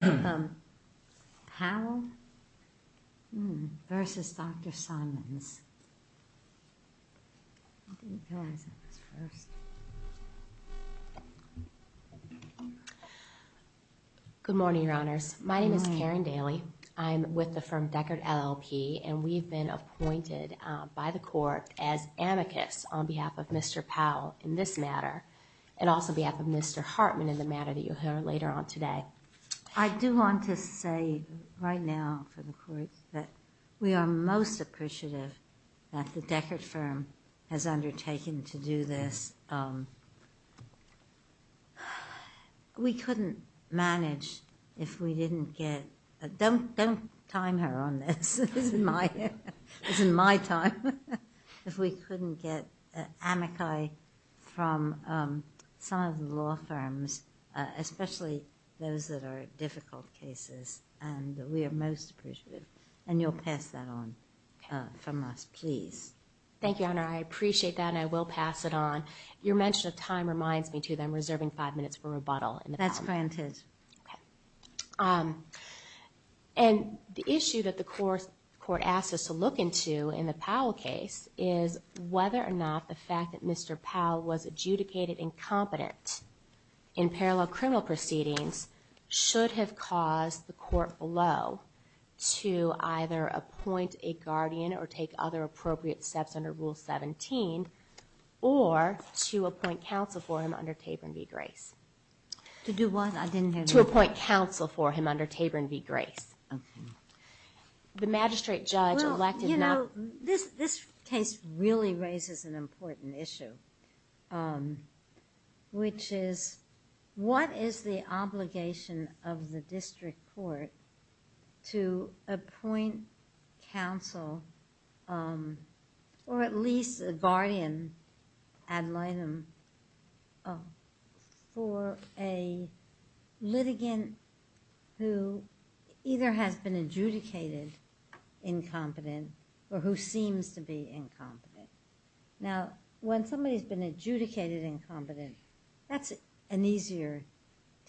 Good morning, Your Honors. My name is Karen Daly. I'm with the firm Deckard LLP and we've been appointed by the court as amicus on behalf of Mr. Powell in this matter and also behalf of Mr. Hartman in the matter that you'll hear later on today. I do want to say right now for the court that we are most appreciative that the Deckard firm has undertaken to do this. We couldn't manage if we didn't get, don't time her on this, it's in my time, if we couldn't get amici from some of the law firms, especially those that are difficult cases and we are most appreciative and you'll pass that on from us, please. Thank you, Your Honor. I appreciate that and I will pass it on. Your mention of time reminds me too that I'm reserving five minutes for rebuttal. That's granted. The issue that the court asked us to look into in the Powell case is whether or not the fact that Mr. Powell was adjudicated incompetent in parallel criminal proceedings should have caused the court below to either appoint a guardian or take other appropriate steps under Rule 17 or to appoint counsel for him under Taborn v. Grace. To do what? To appoint counsel for him under Taborn v. Grace. The magistrate judge elected not... This case really raises an important issue, which is what is the obligation of the district court to appoint counsel or at least a guardian ad litem for a litigant who either has been adjudicated incompetent or who seems to be incompetent. Now when somebody has been adjudicated incompetent, that's an easier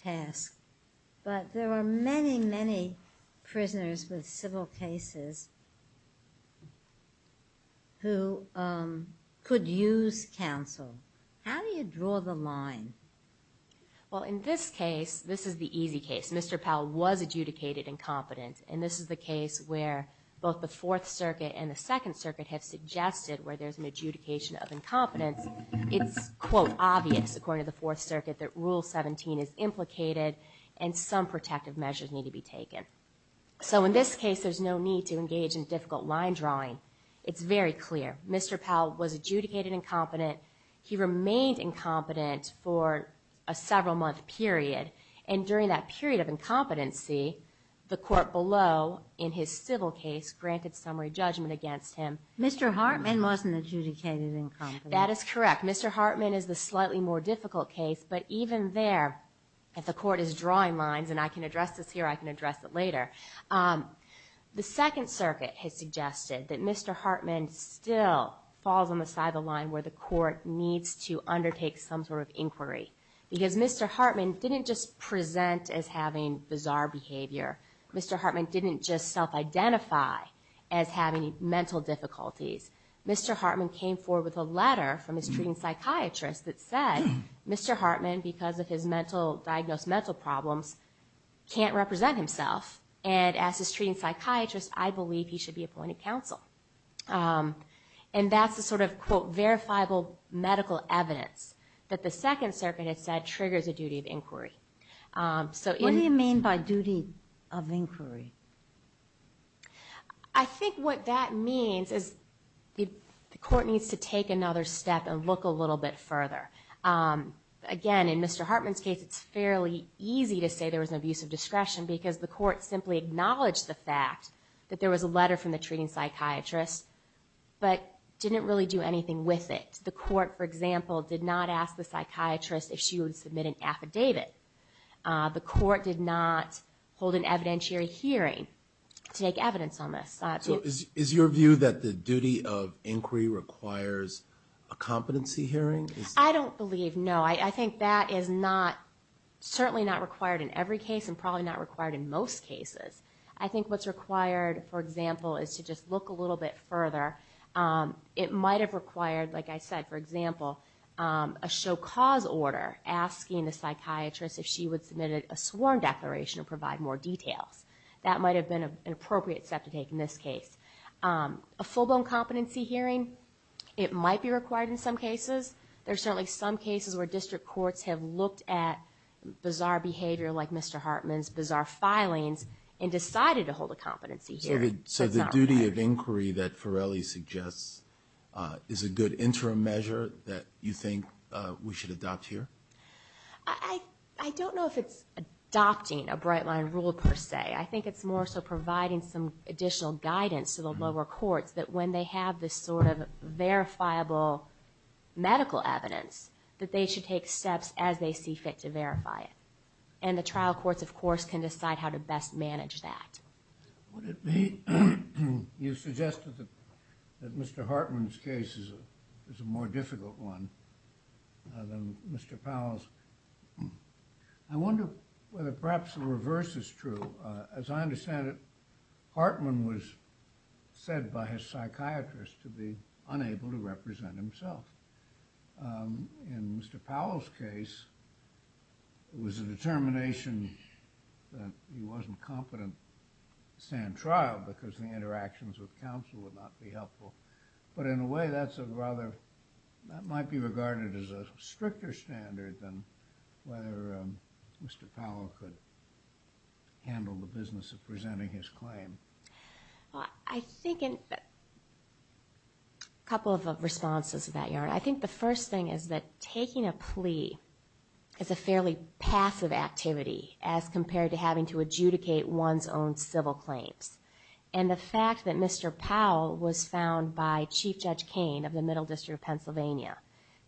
task, but there are many many prisoners with civil cases who could use counsel. How do you draw the line? Well in this case, this is the easy case, Mr. Powell was adjudicated incompetent and this is the case where both the Fourth Circuit and the Second Circuit have suggested where there's an adjudication of incompetence. It's quote obvious according to the Fourth Circuit that Rule 17 is implicated and some protective measures need to be taken. So in this case, there's no need to engage in difficult line drawing. It's very clear. Mr. Powell was adjudicated incompetent. He remained incompetent for a several month period and during that period of incompetency, the court below in his civil case granted summary judgment against him. Mr. Hartman wasn't adjudicated incompetent. That is correct. Mr. Hartman is the slightly more difficult case, but even there, if the court is drawing lines and I can address this here, I can address it later. The Second Circuit has suggested that Mr. Hartman still falls on the side of the line where the court needs to undertake some sort of inquiry because Mr. Hartman didn't just present as having bizarre behavior. Mr. Hartman didn't just self-identify as having mental difficulties. Mr. Hartman came forward with a letter from his treating psychiatrist that said Mr. Hartman, because of his mental, diagnosed mental problems, can't represent himself and asked his treating psychiatrist, I believe he should be appointed counsel. And that's the sort of, quote, verifiable medical evidence that the Second Circuit has said triggers a duty of inquiry. So in- What do you mean by duty of inquiry? I think what that means is the court needs to take another step and look a little bit further. Again, in Mr. Hartman's case, it's fairly easy to say there was an abuse of discretion because the court simply acknowledged the fact that there was a letter from the treating psychiatrist, but didn't really do anything with it. The court, for example, did not ask the psychiatrist if she would submit an affidavit. The court did not hold an evidentiary hearing to take evidence on this. Is your view that the duty of inquiry requires a competency hearing? I don't believe, no. I think that is not, certainly not required in every case and probably not required in most cases. I think what's required, for example, is to just look a little bit further. It might have required, like I said, for example, a show cause order asking the psychiatrist if she would submit a sworn declaration to provide more details. That might have been an appropriate step to take in this case. A full-blown competency hearing, it might be required in some cases. There's certainly some cases where district courts have looked at bizarre behavior like Mr. Hartman's, bizarre filings, and decided to hold a competency hearing. So the duty of inquiry that Farrelly suggests is a good interim measure that you think we should adopt here? I don't know if it's adopting a Bright Line rule per se. I think it's more so providing some additional guidance to the lower courts that when they have this sort of verifiable medical evidence, that they should take steps as they see fit to verify it. And the trial courts, of course, can decide how to best manage that. Would it be, you suggested that Mr. Hartman's case is a more difficult one than Mr. Powell's. I wonder whether perhaps the reverse is true. As I understand it, Hartman was said by his psychiatrist to be unable to represent himself. In Mr. Powell's case, it was a determination that he wasn't competent to stand trial because the interactions with counsel would not be helpful. But in a way, that's a rather, that might be regarded as a stricter standard than whether Mr. Powell could handle the business of presenting his claim. I think in a couple of responses to that, Your Honor, I think the first thing is that taking a plea is a fairly passive activity as compared to having to adjudicate one's own civil claims. And the fact that Mr. Powell was found by Chief Judge Cain of the Middle District of Pennsylvania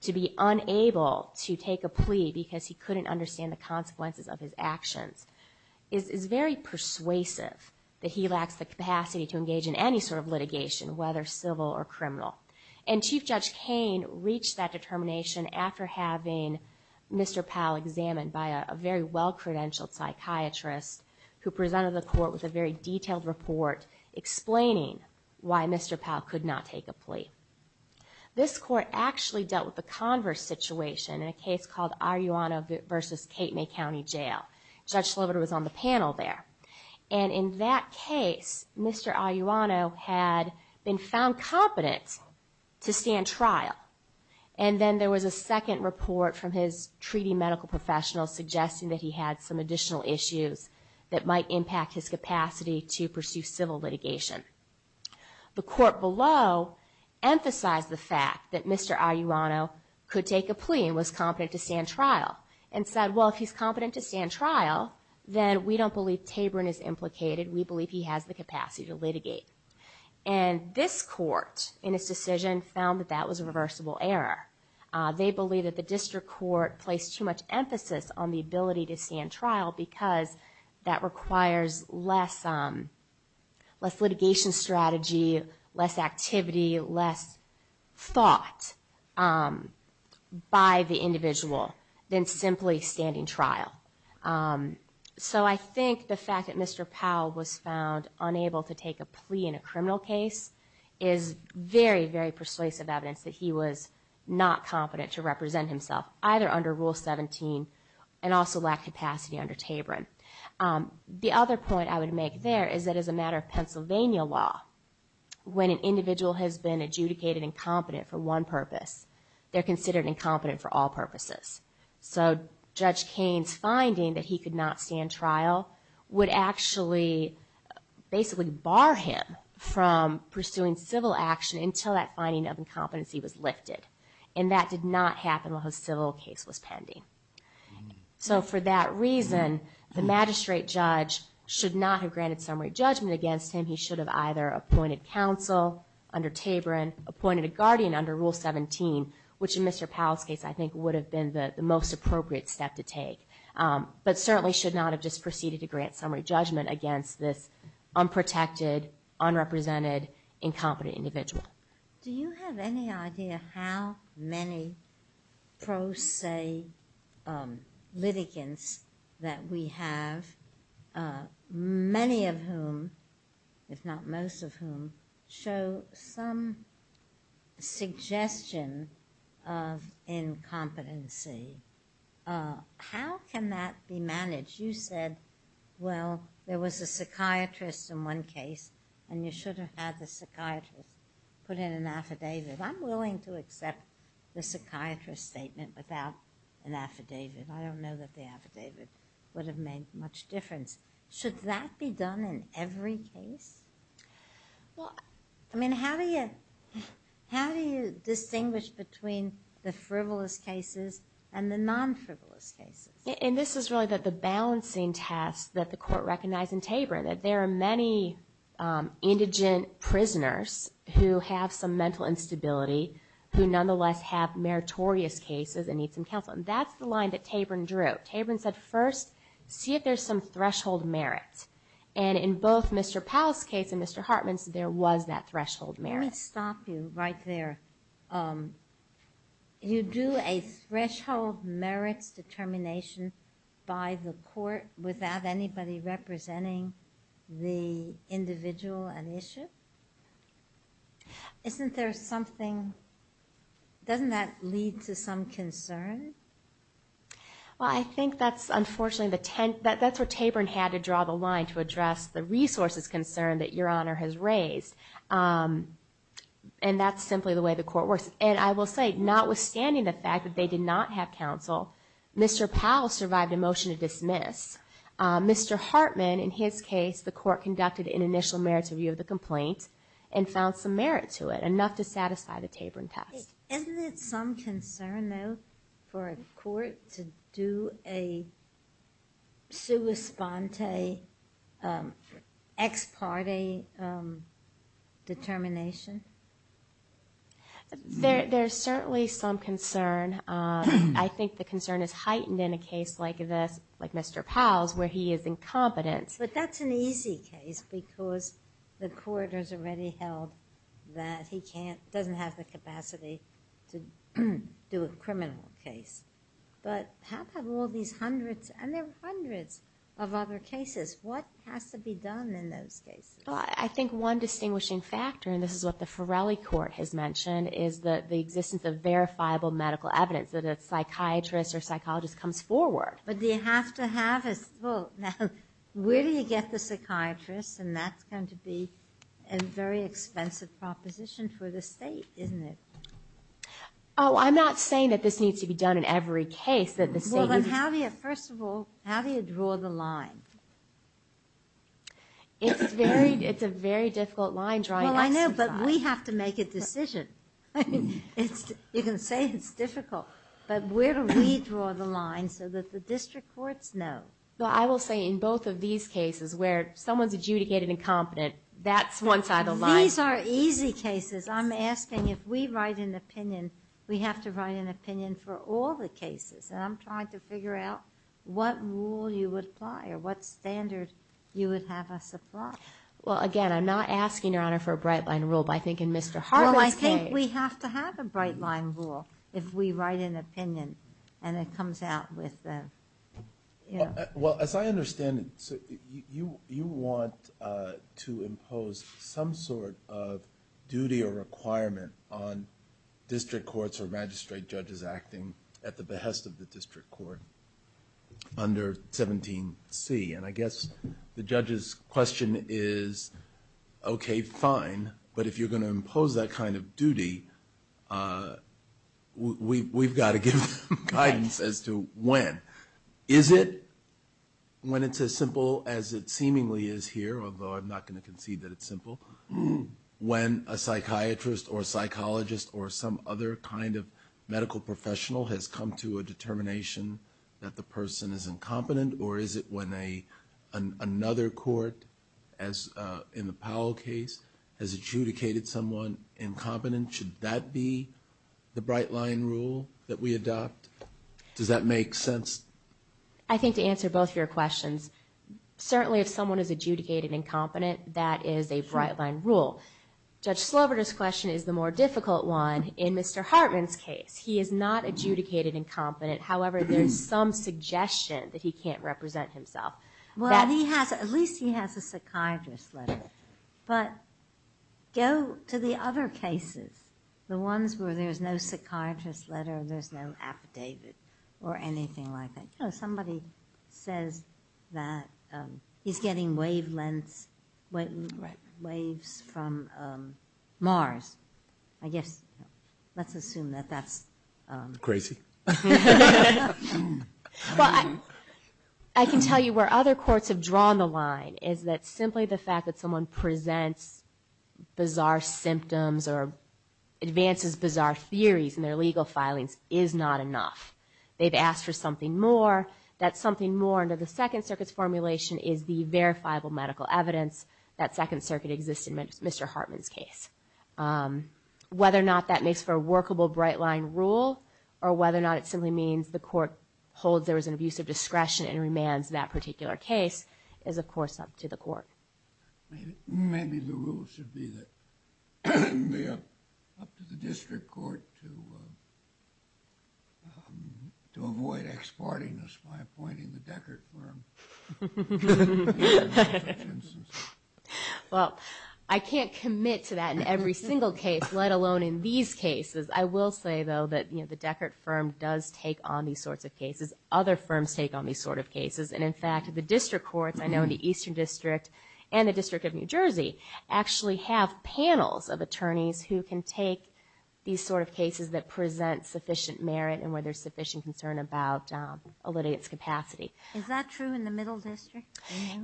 to be unable to take a plea because he couldn't understand the consequences of his actions is very persuasive that he lacks the capacity to engage in any sort of litigation, whether civil or criminal. And Chief Judge Cain reached that determination after having Mr. Powell examined by a very well-credentialed psychiatrist who presented the court with a very detailed report explaining why Mr. Powell could not take a plea. This court actually dealt with the converse situation in a case called Arellano v. Kate May County Jail. Judge Slover was on the panel there. And in that case, Mr. Arellano had been found competent to stand trial. And then there was a second report from his treaty medical professional suggesting that he had some additional issues that might impact his capacity to pursue civil litigation. The court below emphasized the fact that Mr. Arellano could take a plea and was competent to stand trial and said, well, if he's competent to stand trial, then we don't believe Taborn is implicated. We believe he has the capacity to litigate. And this court, in its decision, found that that was a reversible error. They believe that the district court placed too much emphasis on the ability to stand trial because that requires less litigation strategy, less activity, less thought by the individual than simply standing trial. So I think the fact that Mr. Powell was found unable to take a plea in a criminal case is very, very persuasive evidence that he was not competent to represent himself, either under Rule 17 and also lacked capacity under Taborn. The other point I would make there is that as a matter of Pennsylvania law, when an individual has been adjudicated incompetent for one purpose, they're considered incompetent for all purposes. So Judge Kane's finding that he could not stand trial would actually basically bar him from pursuing civil action until that finding of incompetency was lifted. And that did not happen while his civil case was pending. So for that reason, the magistrate judge should not have granted summary judgment against him. He should have either appointed counsel under Taborn, appointed a guardian under Rule 17, which in Mr. Powell's case, I think, would have been the most appropriate step to take, but certainly should not have just proceeded to grant summary judgment against this unprotected, unrepresented, incompetent individual. Do you have any idea how many pro se litigants that we have, many of whom, if not most of whom, show some suggestion of incompetency? How can that be managed? You said, well, there was a psychiatrist in one case, and you should have had the psychiatrist put in an affidavit. I'm willing to accept the psychiatrist's statement without an affidavit. I don't know that the affidavit would have made much difference. Should that be done in every case? Well, I mean, how do you distinguish between the frivolous cases and the non-frivolous cases? This is really the balancing task that the court recognized in Taborn, that there are many indigent prisoners who have some mental instability, who nonetheless have meritorious cases and need some counsel. That's the line that Taborn drew. Taborn said, first, see if there's some threshold merit. In both Mr. Powell's case and Mr. Hartman's, there was that threshold merit. Let me stop you right there. You do a threshold merits determination by the court without anybody representing the individual and issue? Isn't there something, doesn't that lead to some concern? Well, I think that's, unfortunately, that's where Taborn had to draw the line to address the resources concern that Your Honor has raised. And that's simply the way the court works. And I will say, notwithstanding the fact that they did not have counsel, Mr. Powell survived a motion to dismiss. Mr. Hartman, in his case, the court conducted an initial merits review of the complaint and found some merit to it, enough to satisfy the Taborn test. Isn't it some concern, though, for a court to do a sua sponte ex parte determination? There's certainly some concern. I think the concern is heightened in a case like this, like Mr. Powell's, where he is incompetent. But that's an easy case because the court has already held that he can't, doesn't have the capacity to do a criminal case. But how come all these hundreds, and there were hundreds of other cases, what has to be done in those cases? Well, I think one distinguishing factor, and this is what the Farrelly Court has mentioned, is that the existence of verifiable medical evidence, that a psychiatrist or psychologist comes forward. But do you have to have a, well, now, where do you get the psychiatrist, and that's going to be a very expensive proposition for the state, isn't it? Oh, I'm not saying that this needs to be done in every case, that the state needs to be done. Well, then, how do you, first of all, how do you draw the line? It's a very difficult line, drawing X and Y. Well, I know, but we have to make a decision. You can say it's difficult, but where do we draw the line so that the district courts know? Well, I will say, in both of these cases, where someone's adjudicated incompetent, that's one side of the line. These are easy cases. I'm asking, if we write an opinion, we have to write an opinion for all the cases. And I'm trying to figure out what rule you would apply, or what standard you would have us apply. Well, again, I'm not asking, Your Honor, for a bright-line rule, but I think in Mr. Harbert's case. Well, I think we have to have a bright-line rule if we write an opinion, and it comes out with the... Well, as I understand it, you want to impose some sort of duty or requirement on district courts or magistrate judges acting at the behest of the district court under 17C. And I guess the judge's question is, okay, fine, but if you're going to impose that kind of duty, we've got to give them guidance as to when. Is it when it's as simple as it seemingly is here, although I'm not going to concede that it's simple, when a psychiatrist or a psychologist or some other kind of medical professional has come to a determination that the person is incompetent, or is it when another court, as in the Powell case, has adjudicated someone incompetent, should that be the bright-line rule that we adopt? Does that make sense? I think to answer both your questions, certainly if someone is adjudicated incompetent, that is a bright-line rule. Judge Sloboda's question is the more difficult one. In Mr. Hartman's case, he is not adjudicated incompetent, however, there's some suggestion that he can't represent himself. Well, he has, at least he has a psychiatrist's letter, but go to the other cases, the ones where there's no psychiatrist's letter, there's no affidavit, or anything like that. Somebody says that he's getting wavelengths, waves from Mars, I guess, let's assume that that's... Crazy. Well, I can tell you where other courts have drawn the line, is that simply the fact that someone presents bizarre symptoms, or advances bizarre theories in their legal filings, is not enough. They've asked for something more, that something more under the Second Circuit's formulation is the verifiable medical evidence that Second Circuit exists in Mr. Hartman's case. Whether or not that makes for a workable bright-line rule, or whether or not it simply means the court holds there is an abuse of discretion and remands that particular case, is of course up to the court. Maybe the rule should be that, up to the district court to avoid ex-parting us by appointing the Deckert firm. Well, I can't commit to that in every single case, let alone in these cases. I will say, though, that the Deckert firm does take on these sorts of cases. Other firms take on these sorts of cases, and in fact, the district courts, I know in the Eastern District, and the District of New Jersey, actually have panels of attorneys who can take these sort of cases that present sufficient merit, and where there's sufficient concern about a litigant's capacity. Is that true in the Middle District?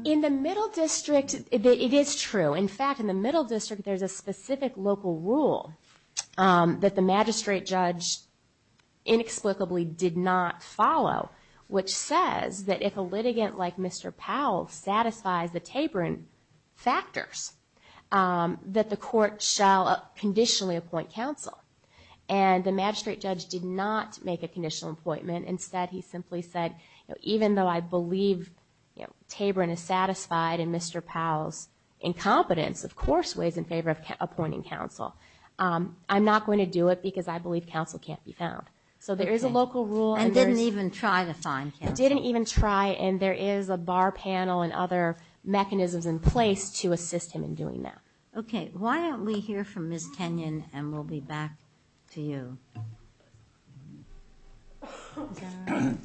In the Middle District, it is true. In fact, in the Middle District, there's a specific local rule that the magistrate judge inexplicably did not follow, which says that if a litigant like Mr. Powell satisfies the Taborn factors, that the court shall conditionally appoint counsel. And the magistrate judge did not make a conditional appointment. Instead, he simply said, even though I believe Taborn is satisfied in Mr. Powell's incompetence, of course, he weighs in favor of appointing counsel. I'm not going to do it because I believe counsel can't be found. So there is a local rule. And didn't even try to find counsel. Didn't even try, and there is a bar panel and other mechanisms in place to assist him in doing that. Okay. Why don't we hear from Ms. Kenyon, and we'll be back to you. Is that all right?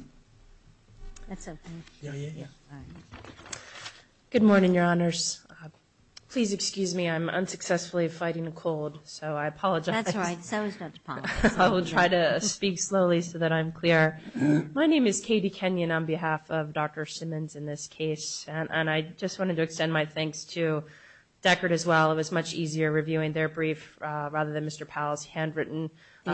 That's okay. Yeah, yeah, yeah. All right. Good morning, Your Honors. Please excuse me. I'm unsuccessfully fighting a cold, so I apologize. That's all right. So is Dr. Powell. I will try to speak slowly so that I'm clear. My name is Katie Kenyon on behalf of Dr. Simmons in this case, and I just wanted to extend my thanks to Deckard as well. It was much easier reviewing their brief rather than Mr. Powell's handwritten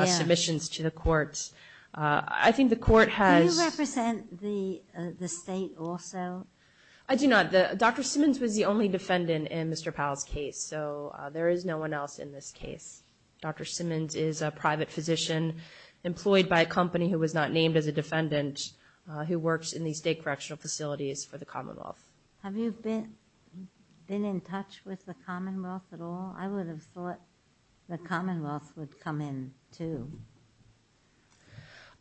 submissions to the courts. Yeah. I think the court has... Do you represent the state also? I do not. Dr. Simmons was the only defendant in Mr. Powell's case, so there is no one else in this case. Dr. Simmons is a private physician employed by a company who was not named as a defendant who works in the state correctional facilities for the Commonwealth. Have you been in touch with the Commonwealth at all? I would have thought the Commonwealth would come in too.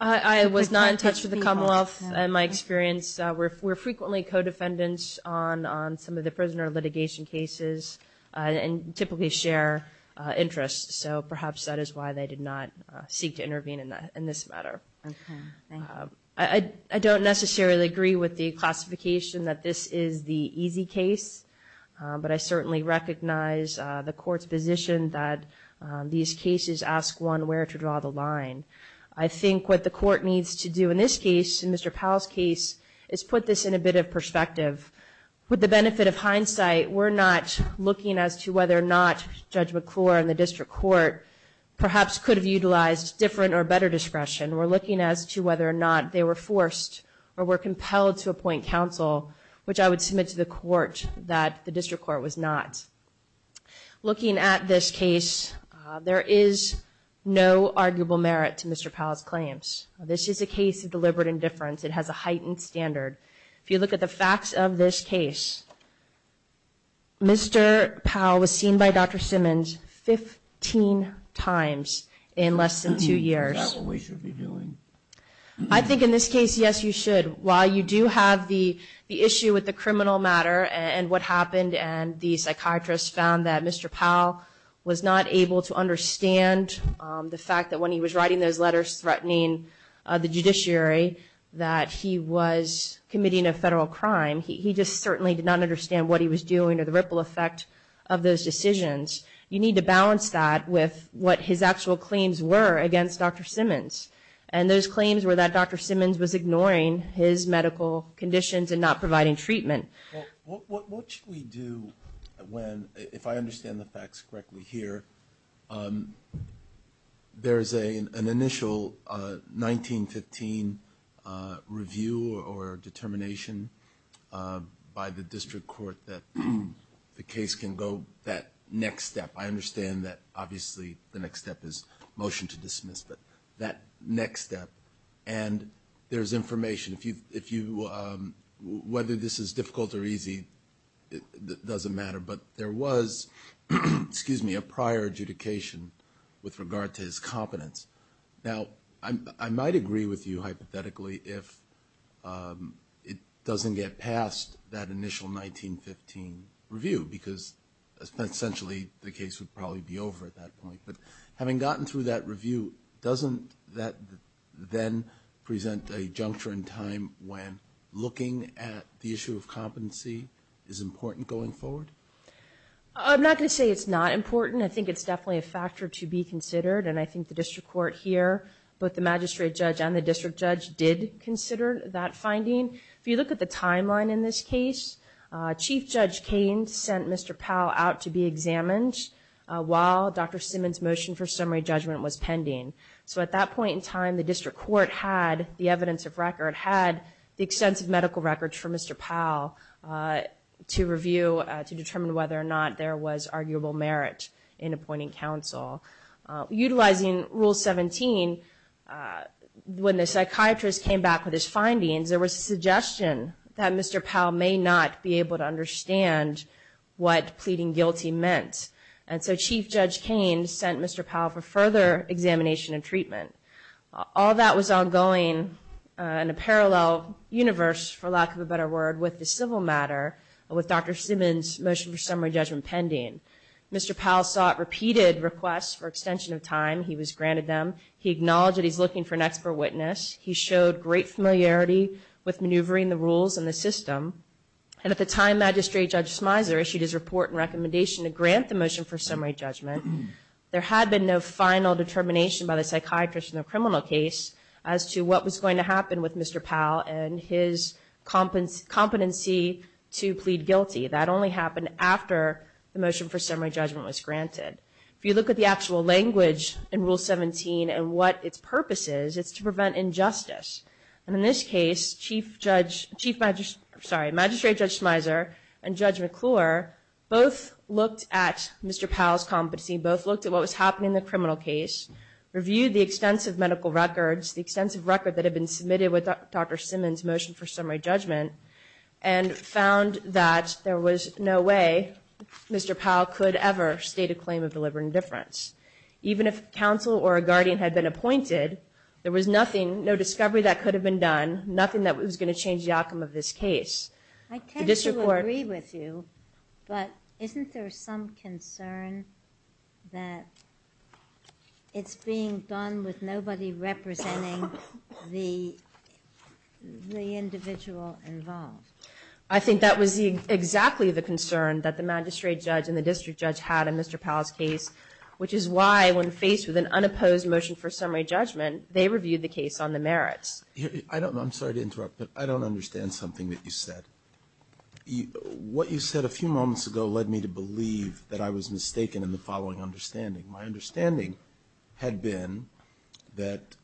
I was not in touch with the Commonwealth in my experience. We're frequently co-defendants on some of the prisoner litigation cases and typically share interests, so perhaps that is why they did not seek to intervene in this matter. Okay. Thank you. I don't necessarily agree with the classification that this is the easy case, but I certainly recognize the court's position that these cases ask one where to draw the line. I think what the court needs to do in this case, in Mr. Powell's case, is put this in a bit of perspective. With the benefit of hindsight, we're not looking as to whether or not Judge McClure and the district court perhaps could have utilized different or better discretion. We're looking as to whether or not they were forced or were compelled to appoint counsel, which I would submit to the court that the district court was not. Looking at this case, there is no arguable merit to Mr. Powell's claims. This is a case of deliberate indifference. It has a heightened standard. If you look at the facts of this case, Mr. Powell was seen by Dr. Simmons 15 times in less than two years. Is that what we should be doing? I think in this case, yes, you should. While you do have the issue with the criminal matter and what happened and the psychiatrist found that Mr. Powell was not able to understand the fact that when he was writing those letters threatening the judiciary that he was committing a federal crime, he just certainly did not understand what he was doing or the ripple effect of those decisions. You need to balance that with what his actual claims were against Dr. Simmons. And those claims were that Dr. Simmons was ignoring his medical conditions and not providing treatment. What should we do when, if I understand the facts correctly here, there is an initial 1915 review or determination by the district court that the case can go that next step. I understand that, obviously, the next step is motion to dismiss, but that next step. And there's information. Whether this is difficult or easy, it doesn't matter. But there was, excuse me, a prior adjudication with regard to his competence. Now, I might agree with you, hypothetically, if it doesn't get past that initial 1915 review because essentially the case would probably be over at that point. But having gotten through that review, doesn't that then present a juncture in time when looking at the issue of competency is important going forward? I'm not going to say it's not important. I think it's definitely a factor to be considered. And I think the district court here, both the magistrate judge and the district judge, did consider that finding. If you look at the timeline in this case, Chief Judge Cain sent Mr. Powell out to be examined while Dr. Simmons' motion for summary judgment was pending. So at that point in time, the district court had the evidence of record, had the extensive medical records for Mr. Powell to review, to determine whether or not there was arguable merit in appointing counsel. Utilizing Rule 17, when the psychiatrist came back with his findings, there was a suggestion that Mr. Powell may not be able to understand what pleading guilty meant. And so Chief Judge Cain sent Mr. Powell for further examination and treatment. All that was ongoing in a parallel universe, for lack of a better word, with the civil matter with Dr. Simmons' motion for summary judgment pending. Mr. Powell sought repeated requests for extension of time. He was granted them. He acknowledged that he's looking for an expert witness. He showed great familiarity with maneuvering the rules and the system. And at the time, Magistrate Judge Smyser issued his report and recommendation to grant the motion for summary judgment. There had been no final determination by the psychiatrist in the criminal case as to what was going to happen with Mr. Powell and his competency to plead guilty. That only happened after the motion for summary judgment was granted. If you look at the actual language in Rule 17 and what its purpose is, it's to prevent injustice. And in this case, Chief Judge, Chief Magistrate, sorry, Magistrate Judge Smyser and Judge McClure both looked at Mr. Powell's competency, both looked at what was happening in the criminal case, reviewed the extensive medical records, the extensive record that had been submitted with Dr. Simmons' motion for summary judgment, and found that there was no way Mr. Powell could ever state a claim of deliberate indifference. Even if counsel or a guardian had been appointed, there was nothing, no discovery that could have been done, nothing that was going to change the outcome of this case. The district court— I tend to agree with you, but isn't there some concern that it's being done with nobody representing the individual involved? I think that was exactly the concern that the magistrate judge and the district judge had in Mr. Powell's case, which is why, when faced with an unopposed motion for summary judgment, they reviewed the case on the merits. I'm sorry to interrupt, but I don't understand something that you said. What you said a few moments ago led me to believe that I was mistaken in the following understanding. My understanding had been that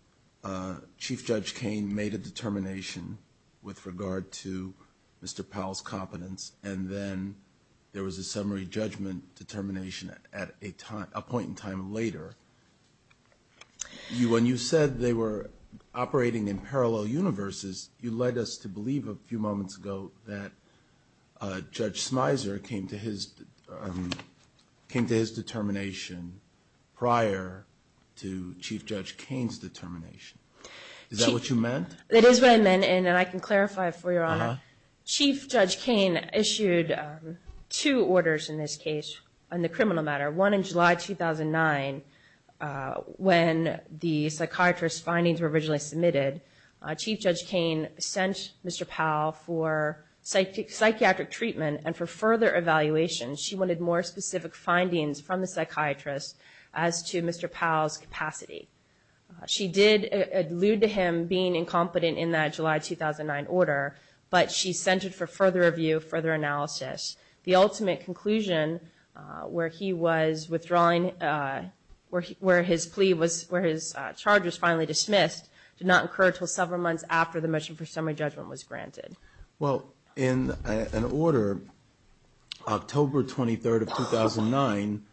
Chief Judge Kain made a determination with regard to Mr. Powell's competence, and then there was a summary judgment determination at a point in time later. When you said they were operating in parallel universes, you led us to believe a few moments ago that Judge Smyser came to his determination prior to Chief Judge Kain's determination. Is that what you meant? It is what I meant, and I can clarify it for you, Your Honor. Chief Judge Kain issued two orders in this case on the criminal matter. One in July 2009, when the psychiatrist's findings were originally submitted. Chief Judge Kain sent Mr. Powell for psychiatric treatment and for further evaluation. She wanted more specific findings from the psychiatrist as to Mr. Powell's capacity. She did allude to him being incompetent in that July 2009 order, but she sent it for further review, further analysis. The ultimate conclusion where he was withdrawing, where his plea was, where his charges finally dismissed did not occur until several months after the motion for summary judgment was granted. Well, in an order, October 23rd of 2009,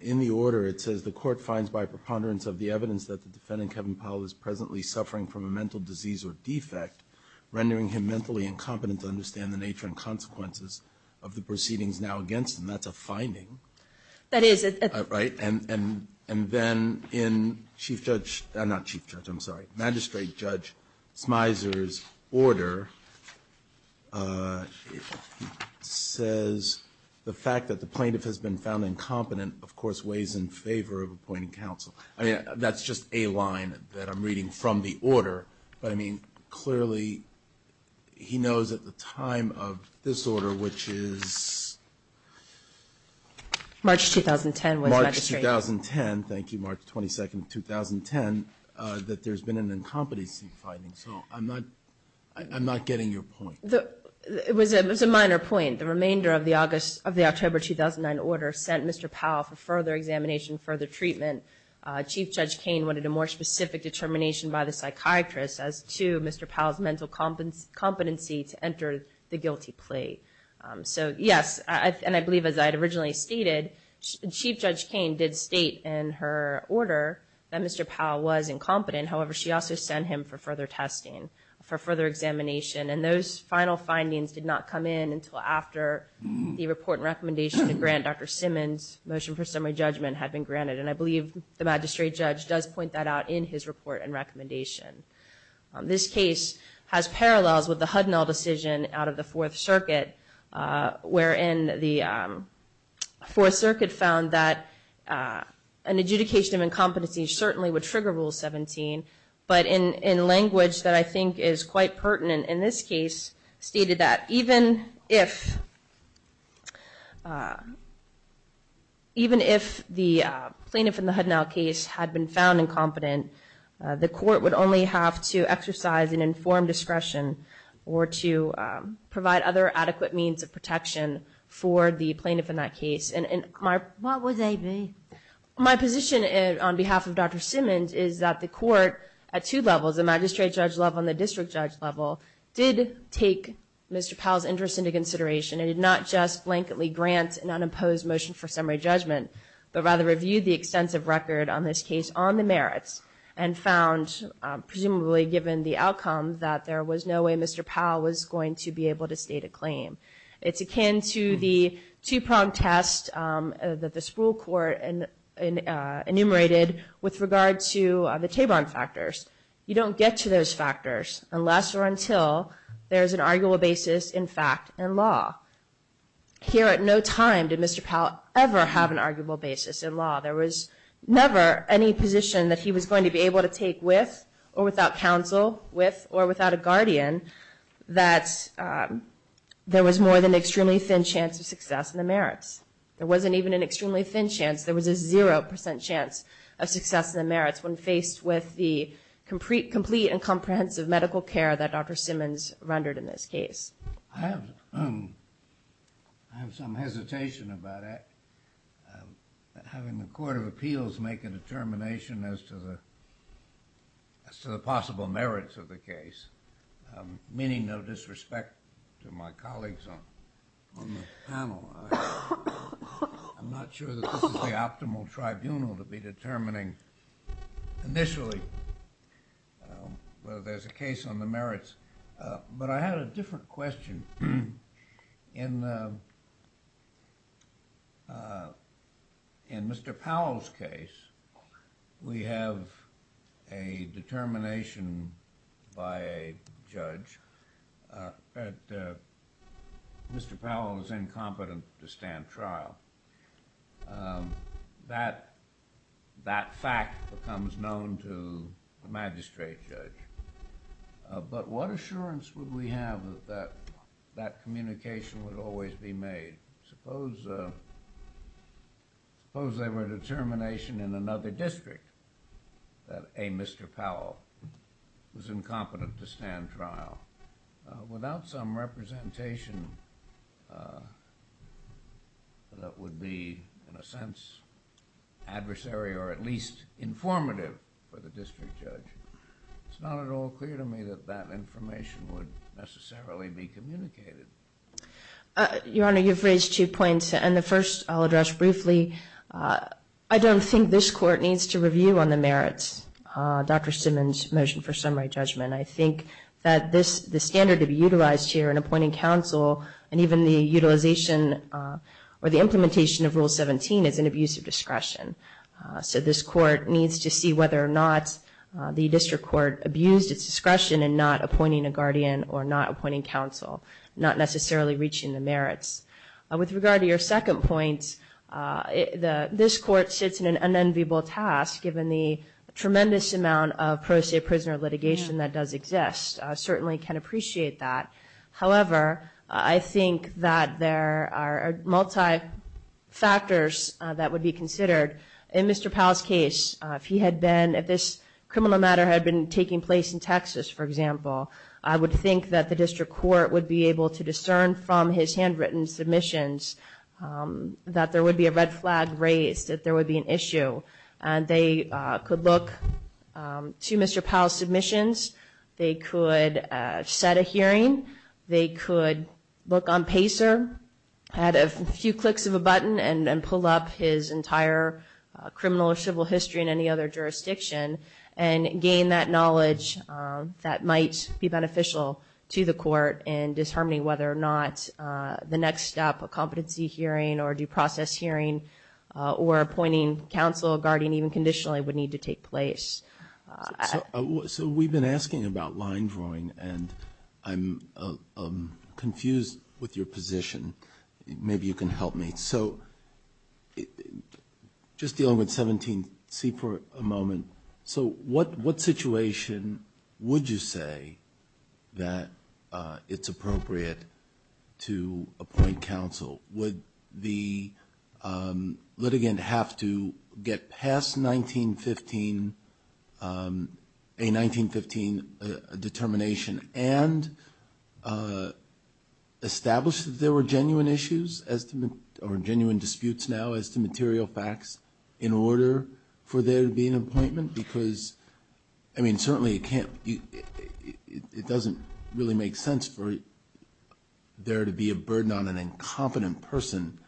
in the order it says the court finds by preponderance of the evidence that the defendant, Kevin Powell, is presently suffering from a mental disease or defect, rendering him mentally incompetent to understand the nature and consequences of the proceedings now against him. That's a finding. That is. Right? And then in Chief Judge, not Chief Judge, I'm sorry, Magistrate Judge Smyser's order says, the fact that the plaintiff has been found incompetent, of course, weighs in favor of appointing counsel. I mean, that's just a line that I'm reading from the order, but I mean, clearly, he knows at the time of this order, which is March 2010, was, Magistrate. March 2010, thank you, March 22nd of 2010, that there's been an incompetency finding. So I'm not, I'm not getting your point. It was a minor point. The remainder of the August, of the October 2009 order sent Mr. Powell for further examination, further treatment. Chief Judge Cain wanted a more specific determination by the psychiatrist as to Mr. Powell's mental competency to enter the guilty plea. So yes, and I believe as I had originally stated, Chief Judge Cain did state in her order that Mr. Powell was incompetent. However, she also sent him for further testing, for further examination, and those final findings did not come in until after the report and recommendation to grant Dr. Simmons' motion for summary judgment had been granted, and I believe the magistrate judge does point that out in his report and recommendation. This case has parallels with the Hudnall decision out of the Fourth Circuit, wherein the Fourth Circuit found that an adjudication of incompetency certainly would trigger Rule 17, but in language that I think is quite pertinent in this case, stated that even if, even if the plaintiff in the Hudnall case had been found incompetent, the court would only have to exercise an informed discretion or to provide other adequate means of protection for the plaintiff in that case. And my- What would they be? My position on behalf of Dr. Simmons is that the court at two levels, the magistrate judge level and the district judge level, did take Mr. Powell's interest into consideration and did not just blanketly grant an unimposed motion for summary judgment, but rather reviewed the extensive record on this case on the merits and found, presumably given the outcome, that there was no way Mr. Powell was going to be able to state a claim. It's akin to the two-pronged test that the Spruill Court enumerated with regard to the Taborn factors. You don't get to those factors unless or until there's an arguable basis, in fact, in law. Here at no time did Mr. Powell ever have an arguable basis in law. There was never any position that he was going to be able to take with or without counsel, with or without a guardian, that there was more than an extremely thin chance of success in the merits. There wasn't even an extremely thin chance. There was a 0% chance of success in the merits when faced with the complete and comprehensive medical care that Dr. Simmons rendered in this case. I have some hesitation about having the Court of Appeals make a determination as to the possible merits of the case, meaning no disrespect to my colleagues on the panel, I'm not sure that this is the optimal tribunal to be determining initially whether there's a case on the merits. But I have a different question. In Mr. Powell's case, we have a determination by a judge that Mr. Powell is incompetent to stand trial. That fact becomes known to the magistrate judge. But what assurance would we have that that communication would always be made? Suppose there were a determination in another district that, A, Mr. Powell was incompetent to stand trial, without some representation that would be, in a sense, adversary or at least informative for the district judge, it's not at all clear to me that that information would necessarily be communicated. Your Honor, you've raised two points, and the first I'll address briefly. I don't think this Court needs to review on the merits of Dr. Simmons' motion for summary judgment. I think that the standard to be utilized here in appointing counsel and even the utilization or the implementation of Rule 17 is an abuse of discretion. So this Court needs to see whether or not the district court abused its discretion in not appointing a guardian or not appointing counsel, not necessarily reaching the merits. With regard to your second point, this Court sits in an unenviable task given the tremendous amount of pro se prisoner litigation that does exist, certainly can appreciate that. However, I think that there are multi-factors that would be considered. In Mr. Powell's case, if this criminal matter had been taking place in Texas, for example, I would think that the district court would be able to discern from his handwritten submissions that there would be a red flag raised, that there would be an issue. They could look to Mr. Powell's submissions. They could set a hearing. They could look on PACER, add a few clicks of a button and pull up his entire criminal or civil history in any other jurisdiction and gain that knowledge that might be beneficial to the Court in determining whether or not the next step, a competency hearing or due counsel, a guardian even conditionally, would need to take place. So we've been asking about line drawing and I'm confused with your position. Maybe you can help me. So just dealing with 17C for a moment. So what situation would you say that it's appropriate to appoint counsel? Would the litigant have to get past a 1915 determination and establish that there were genuine issues or genuine disputes now as to material facts in order for there to be an appointment? Because, I mean, certainly it can't, it doesn't really make sense for there to be a burden on an incompetent person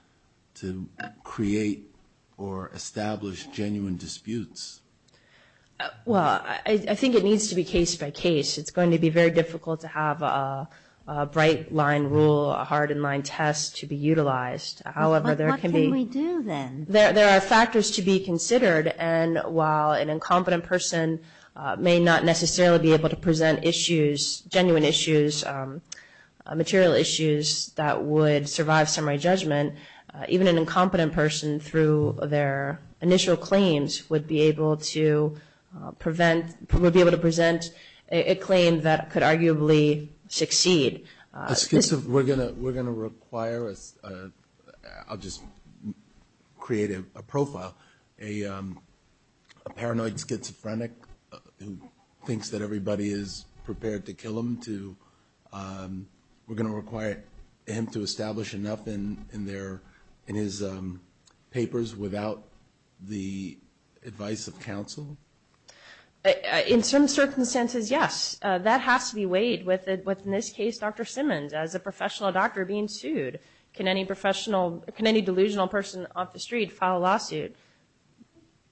to create or establish genuine disputes. Well, I think it needs to be case by case. It's going to be very difficult to have a bright line rule, a hard and line test to be utilized. However, there can be... What can we do then? There are factors to be considered and while an incompetent person may not necessarily be able to present issues, genuine issues, material issues that would survive summary judgment, even an incompetent person through their initial claims would be able to prevent, would be able to present a claim that could arguably succeed. We're going to require, I'll just create a profile, a paranoid schizophrenic who thinks that everybody is prepared to kill him to, we're going to require him to establish enough in his papers without the advice of counsel? In some circumstances, yes. And that has to be weighed with, in this case, Dr. Simmons as a professional doctor being sued. Can any professional, can any delusional person off the street file a lawsuit?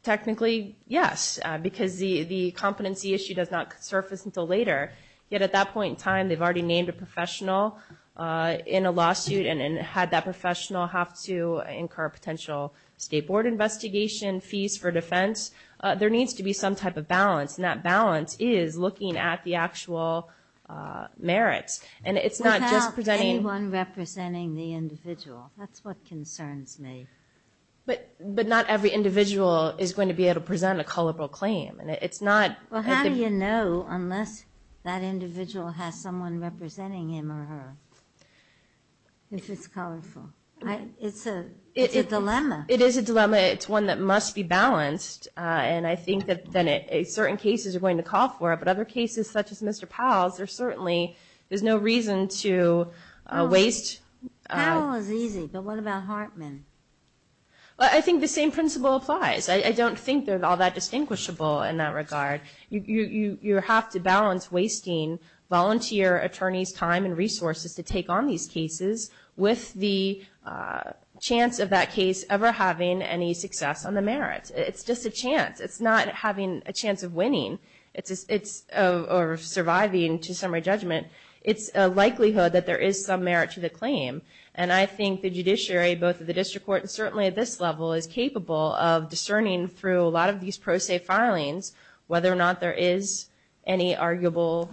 Technically, yes, because the competency issue does not surface until later. Yet at that point in time, they've already named a professional in a lawsuit and had that professional have to incur a potential state board investigation, fees for defense. There needs to be some type of balance and that balance is looking at the actual merits and it's not just presenting- Without anyone representing the individual, that's what concerns me. But not every individual is going to be able to present a colorful claim and it's not- Well, how do you know unless that individual has someone representing him or her if it's It's a dilemma. It is a dilemma. It's one that must be balanced and I think that certain cases are going to call for it, but other cases such as Mr. Powell's, there's certainly, there's no reason to waste- Powell is easy, but what about Hartman? I think the same principle applies. I don't think they're all that distinguishable in that regard. You have to balance wasting volunteer attorneys' time and resources to take on these cases with the chance of that case ever having any success on the merits. It's just a chance. It's not having a chance of winning or surviving to summary judgment. It's a likelihood that there is some merit to the claim. And I think the judiciary, both at the district court and certainly at this level, is capable of discerning through a lot of these pro se filings whether or not there is any arguable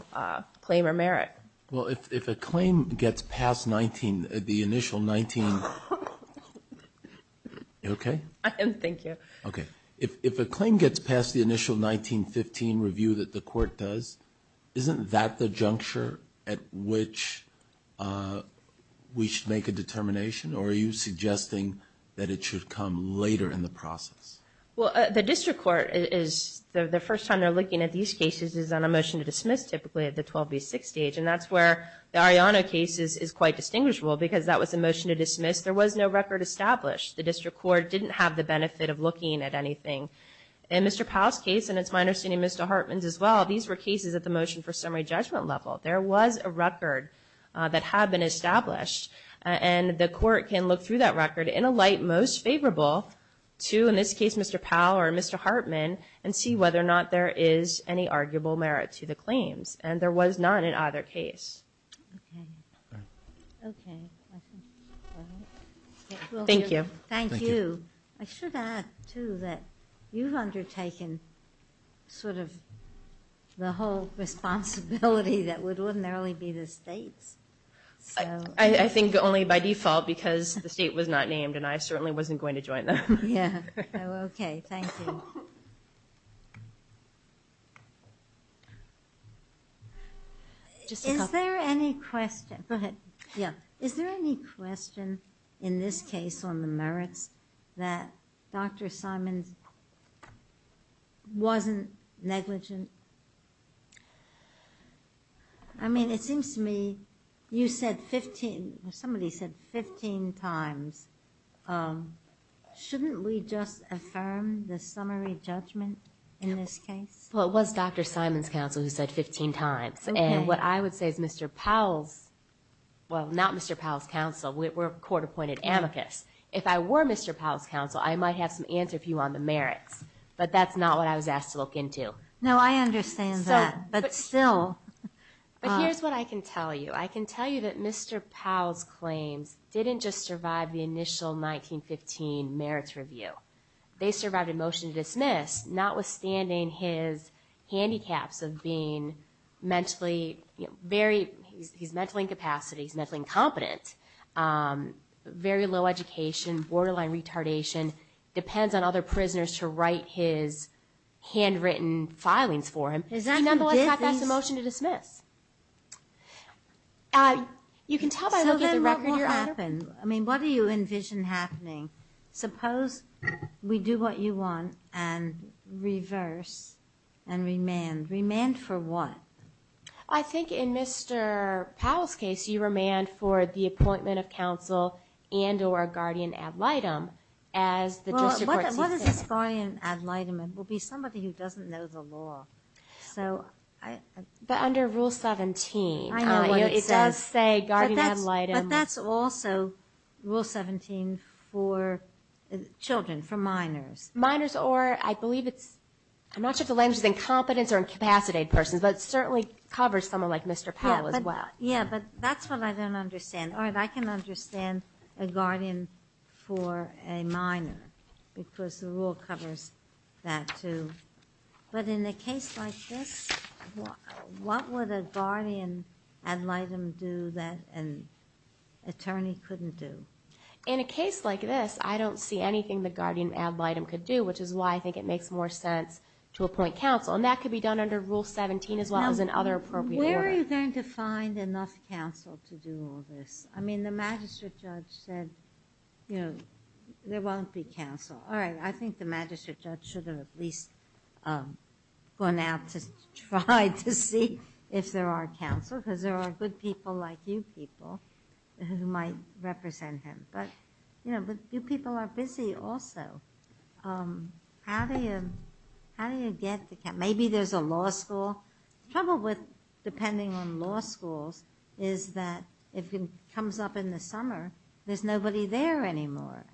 claim or merit. Well, if a claim gets past the initial 1915 review that the court does, isn't that the juncture at which we should make a determination? Or are you suggesting that it should come later in the process? Well, the district court, the first time they're looking at these cases is on a motion to dismiss typically at the 12B6 stage. And that's where the Arellano case is quite distinguishable because that was a motion to dismiss. There was no record established. The district court didn't have the benefit of looking at anything. In Mr. Powell's case, and it's my understanding Mr. Hartman's as well, these were cases at the motion for summary judgment level. There was a record that had been established. And the court can look through that record in a light most favorable to, in this case, Mr. Powell or Mr. Hartman and see whether or not there is any arguable merit to the claims. And there was none in either case. Okay. Okay. Thank you. Thank you. I should add, too, that you've undertaken sort of the whole responsibility that would ordinarily be the state's. I think only by default because the state was not named and I certainly wasn't going Thank you. Thank you. Thank you. Thank you. Thank you. Thank you. Thank you. Thank you. Thank you. Thank you. Okay, thank you. Is there any question? Go ahead. Yeah. Is there any question in this case on the merits that Dr. Simons wasn't negligent? I mean, it seems to me you said 15, somebody said 15 times shouldn't we just affirm the summary judgment in this case? Well, it was Dr. Simons' counsel who said 15 times. Okay. And what I would say is Mr. Powell's, well, not Mr. Powell's counsel, we're a court-appointed amicus. If I were Mr. Powell's counsel, I might have some answer for you on the merits, but that's not what I was asked to look into. No, I understand that, but still. But here's what I can tell you. I can tell you that Mr. Powell's claims didn't just survive the initial 1915 merits review. They survived a motion to dismiss, notwithstanding his handicaps of being mentally, you know, very, he's mentally incapacity, he's mentally incompetent, very low education, borderline retardation, depends on other prisoners to write his handwritten filings for him. Is that the difference? Nonetheless, that's a motion to dismiss. You can tell by looking at the record. So then what will happen? I mean, what do you envision happening? Suppose we do what you want and reverse and remand. Remand for what? I think in Mr. Powell's case, you remand for the appointment of counsel and or guardian ad litem as the district court sees fit. Well, what is guardian ad litem? It will be somebody who doesn't know the law. So I... But under Rule 17. I know what it says. It does say guardian ad litem. But that's also Rule 17 for children, for minors. Minors or I believe it's, I'm not sure if the language is incompetence or incapacitated persons, but it certainly covers someone like Mr. Powell as well. Yeah, but that's what I don't understand. Or I can understand a guardian for a minor because the rule covers that too. But in a case like this, what would a guardian ad litem do that an attorney couldn't do? In a case like this, I don't see anything the guardian ad litem could do, which is why I think it makes more sense to appoint counsel. And that could be done under Rule 17 as well as in other appropriate order. Where are you going to find enough counsel to do all this? I mean, the magistrate judge said, you know, there won't be counsel. All right. I think the magistrate judge should have at least gone out to try to see if there are counsel because there are good people like you people who might represent him. But, you know, but you people are busy also. How do you get the, maybe there's a law school. The trouble with depending on law schools is that if it comes up in the summer, there's nobody there anymore.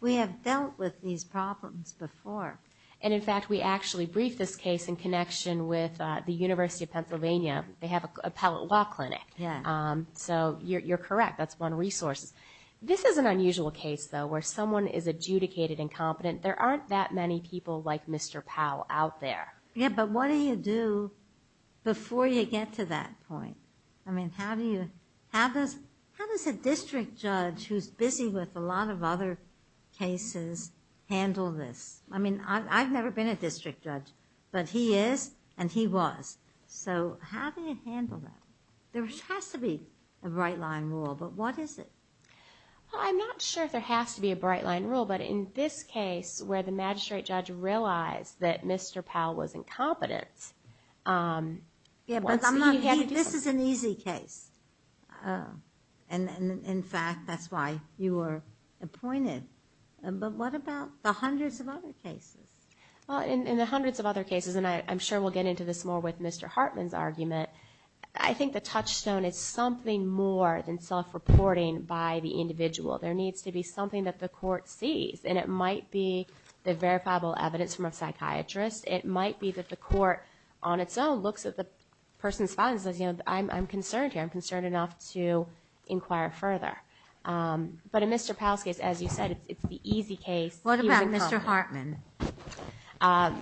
We have dealt with these problems before. And, in fact, we actually briefed this case in connection with the University of Pennsylvania. They have an appellate law clinic. So you're correct. That's one resource. This is an unusual case, though, where someone is adjudicated incompetent. There aren't that many people like Mr. Powell out there. Yeah, but what do you do before you get to that point? I mean, how do you, how does a district judge who's busy with a lot of other cases handle this? I mean, I've never been a district judge, but he is and he was. So how do you handle that? There has to be a bright line rule, but what is it? Well, I'm not sure if there has to be a bright line rule, but in this case, where the magistrate judge realized that Mr. Powell was incompetent. Yeah, but this is an easy case. And, in fact, that's why you were appointed. But what about the hundreds of other cases? Well, in the hundreds of other cases, and I'm sure we'll get into this more with Mr. Hartman's argument, I think the touchstone is something more than self-reporting by the individual. There needs to be something that the court sees. And it might be the verifiable evidence from a psychiatrist. It might be that the court on its own looks at the person's findings and says, you know, I'm concerned here. I'm concerned enough to inquire further. But in Mr. Powell's case, as you said, it's the easy case. What about Mr. Hartman? I'm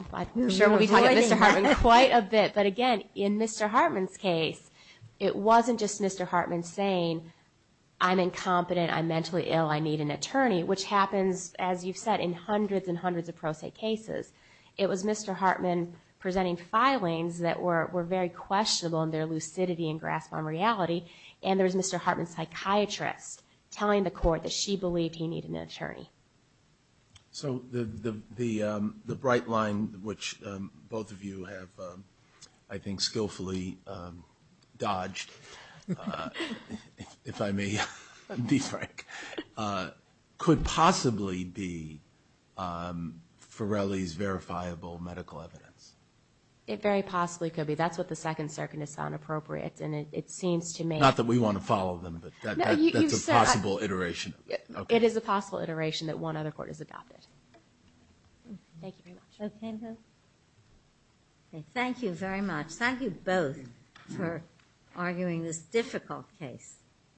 sure we'll be talking about Mr. Hartman quite a bit. But, again, in Mr. Hartman's case, it wasn't just Mr. Hartman saying, I'm incompetent, I'm mentally ill, I need an attorney, which happens, as you've said, in hundreds and hundreds of pro se cases. It was Mr. Hartman presenting filings that were very questionable in their lucidity and grasp on reality. And there was Mr. Hartman's psychiatrist telling the court that she believed he needed an attorney. So the bright line, which both of you have, I think, skillfully dodged, if I may be frank, could possibly be Farrelly's verifiable medical evidence. It very possibly could be. That's what the Second Circuit has found appropriate. Not that we want to follow them, but that's a possible iteration. It is a possible iteration that one other court has adopted. Thank you very much. Thank you very much. Thank you both for arguing this difficult case.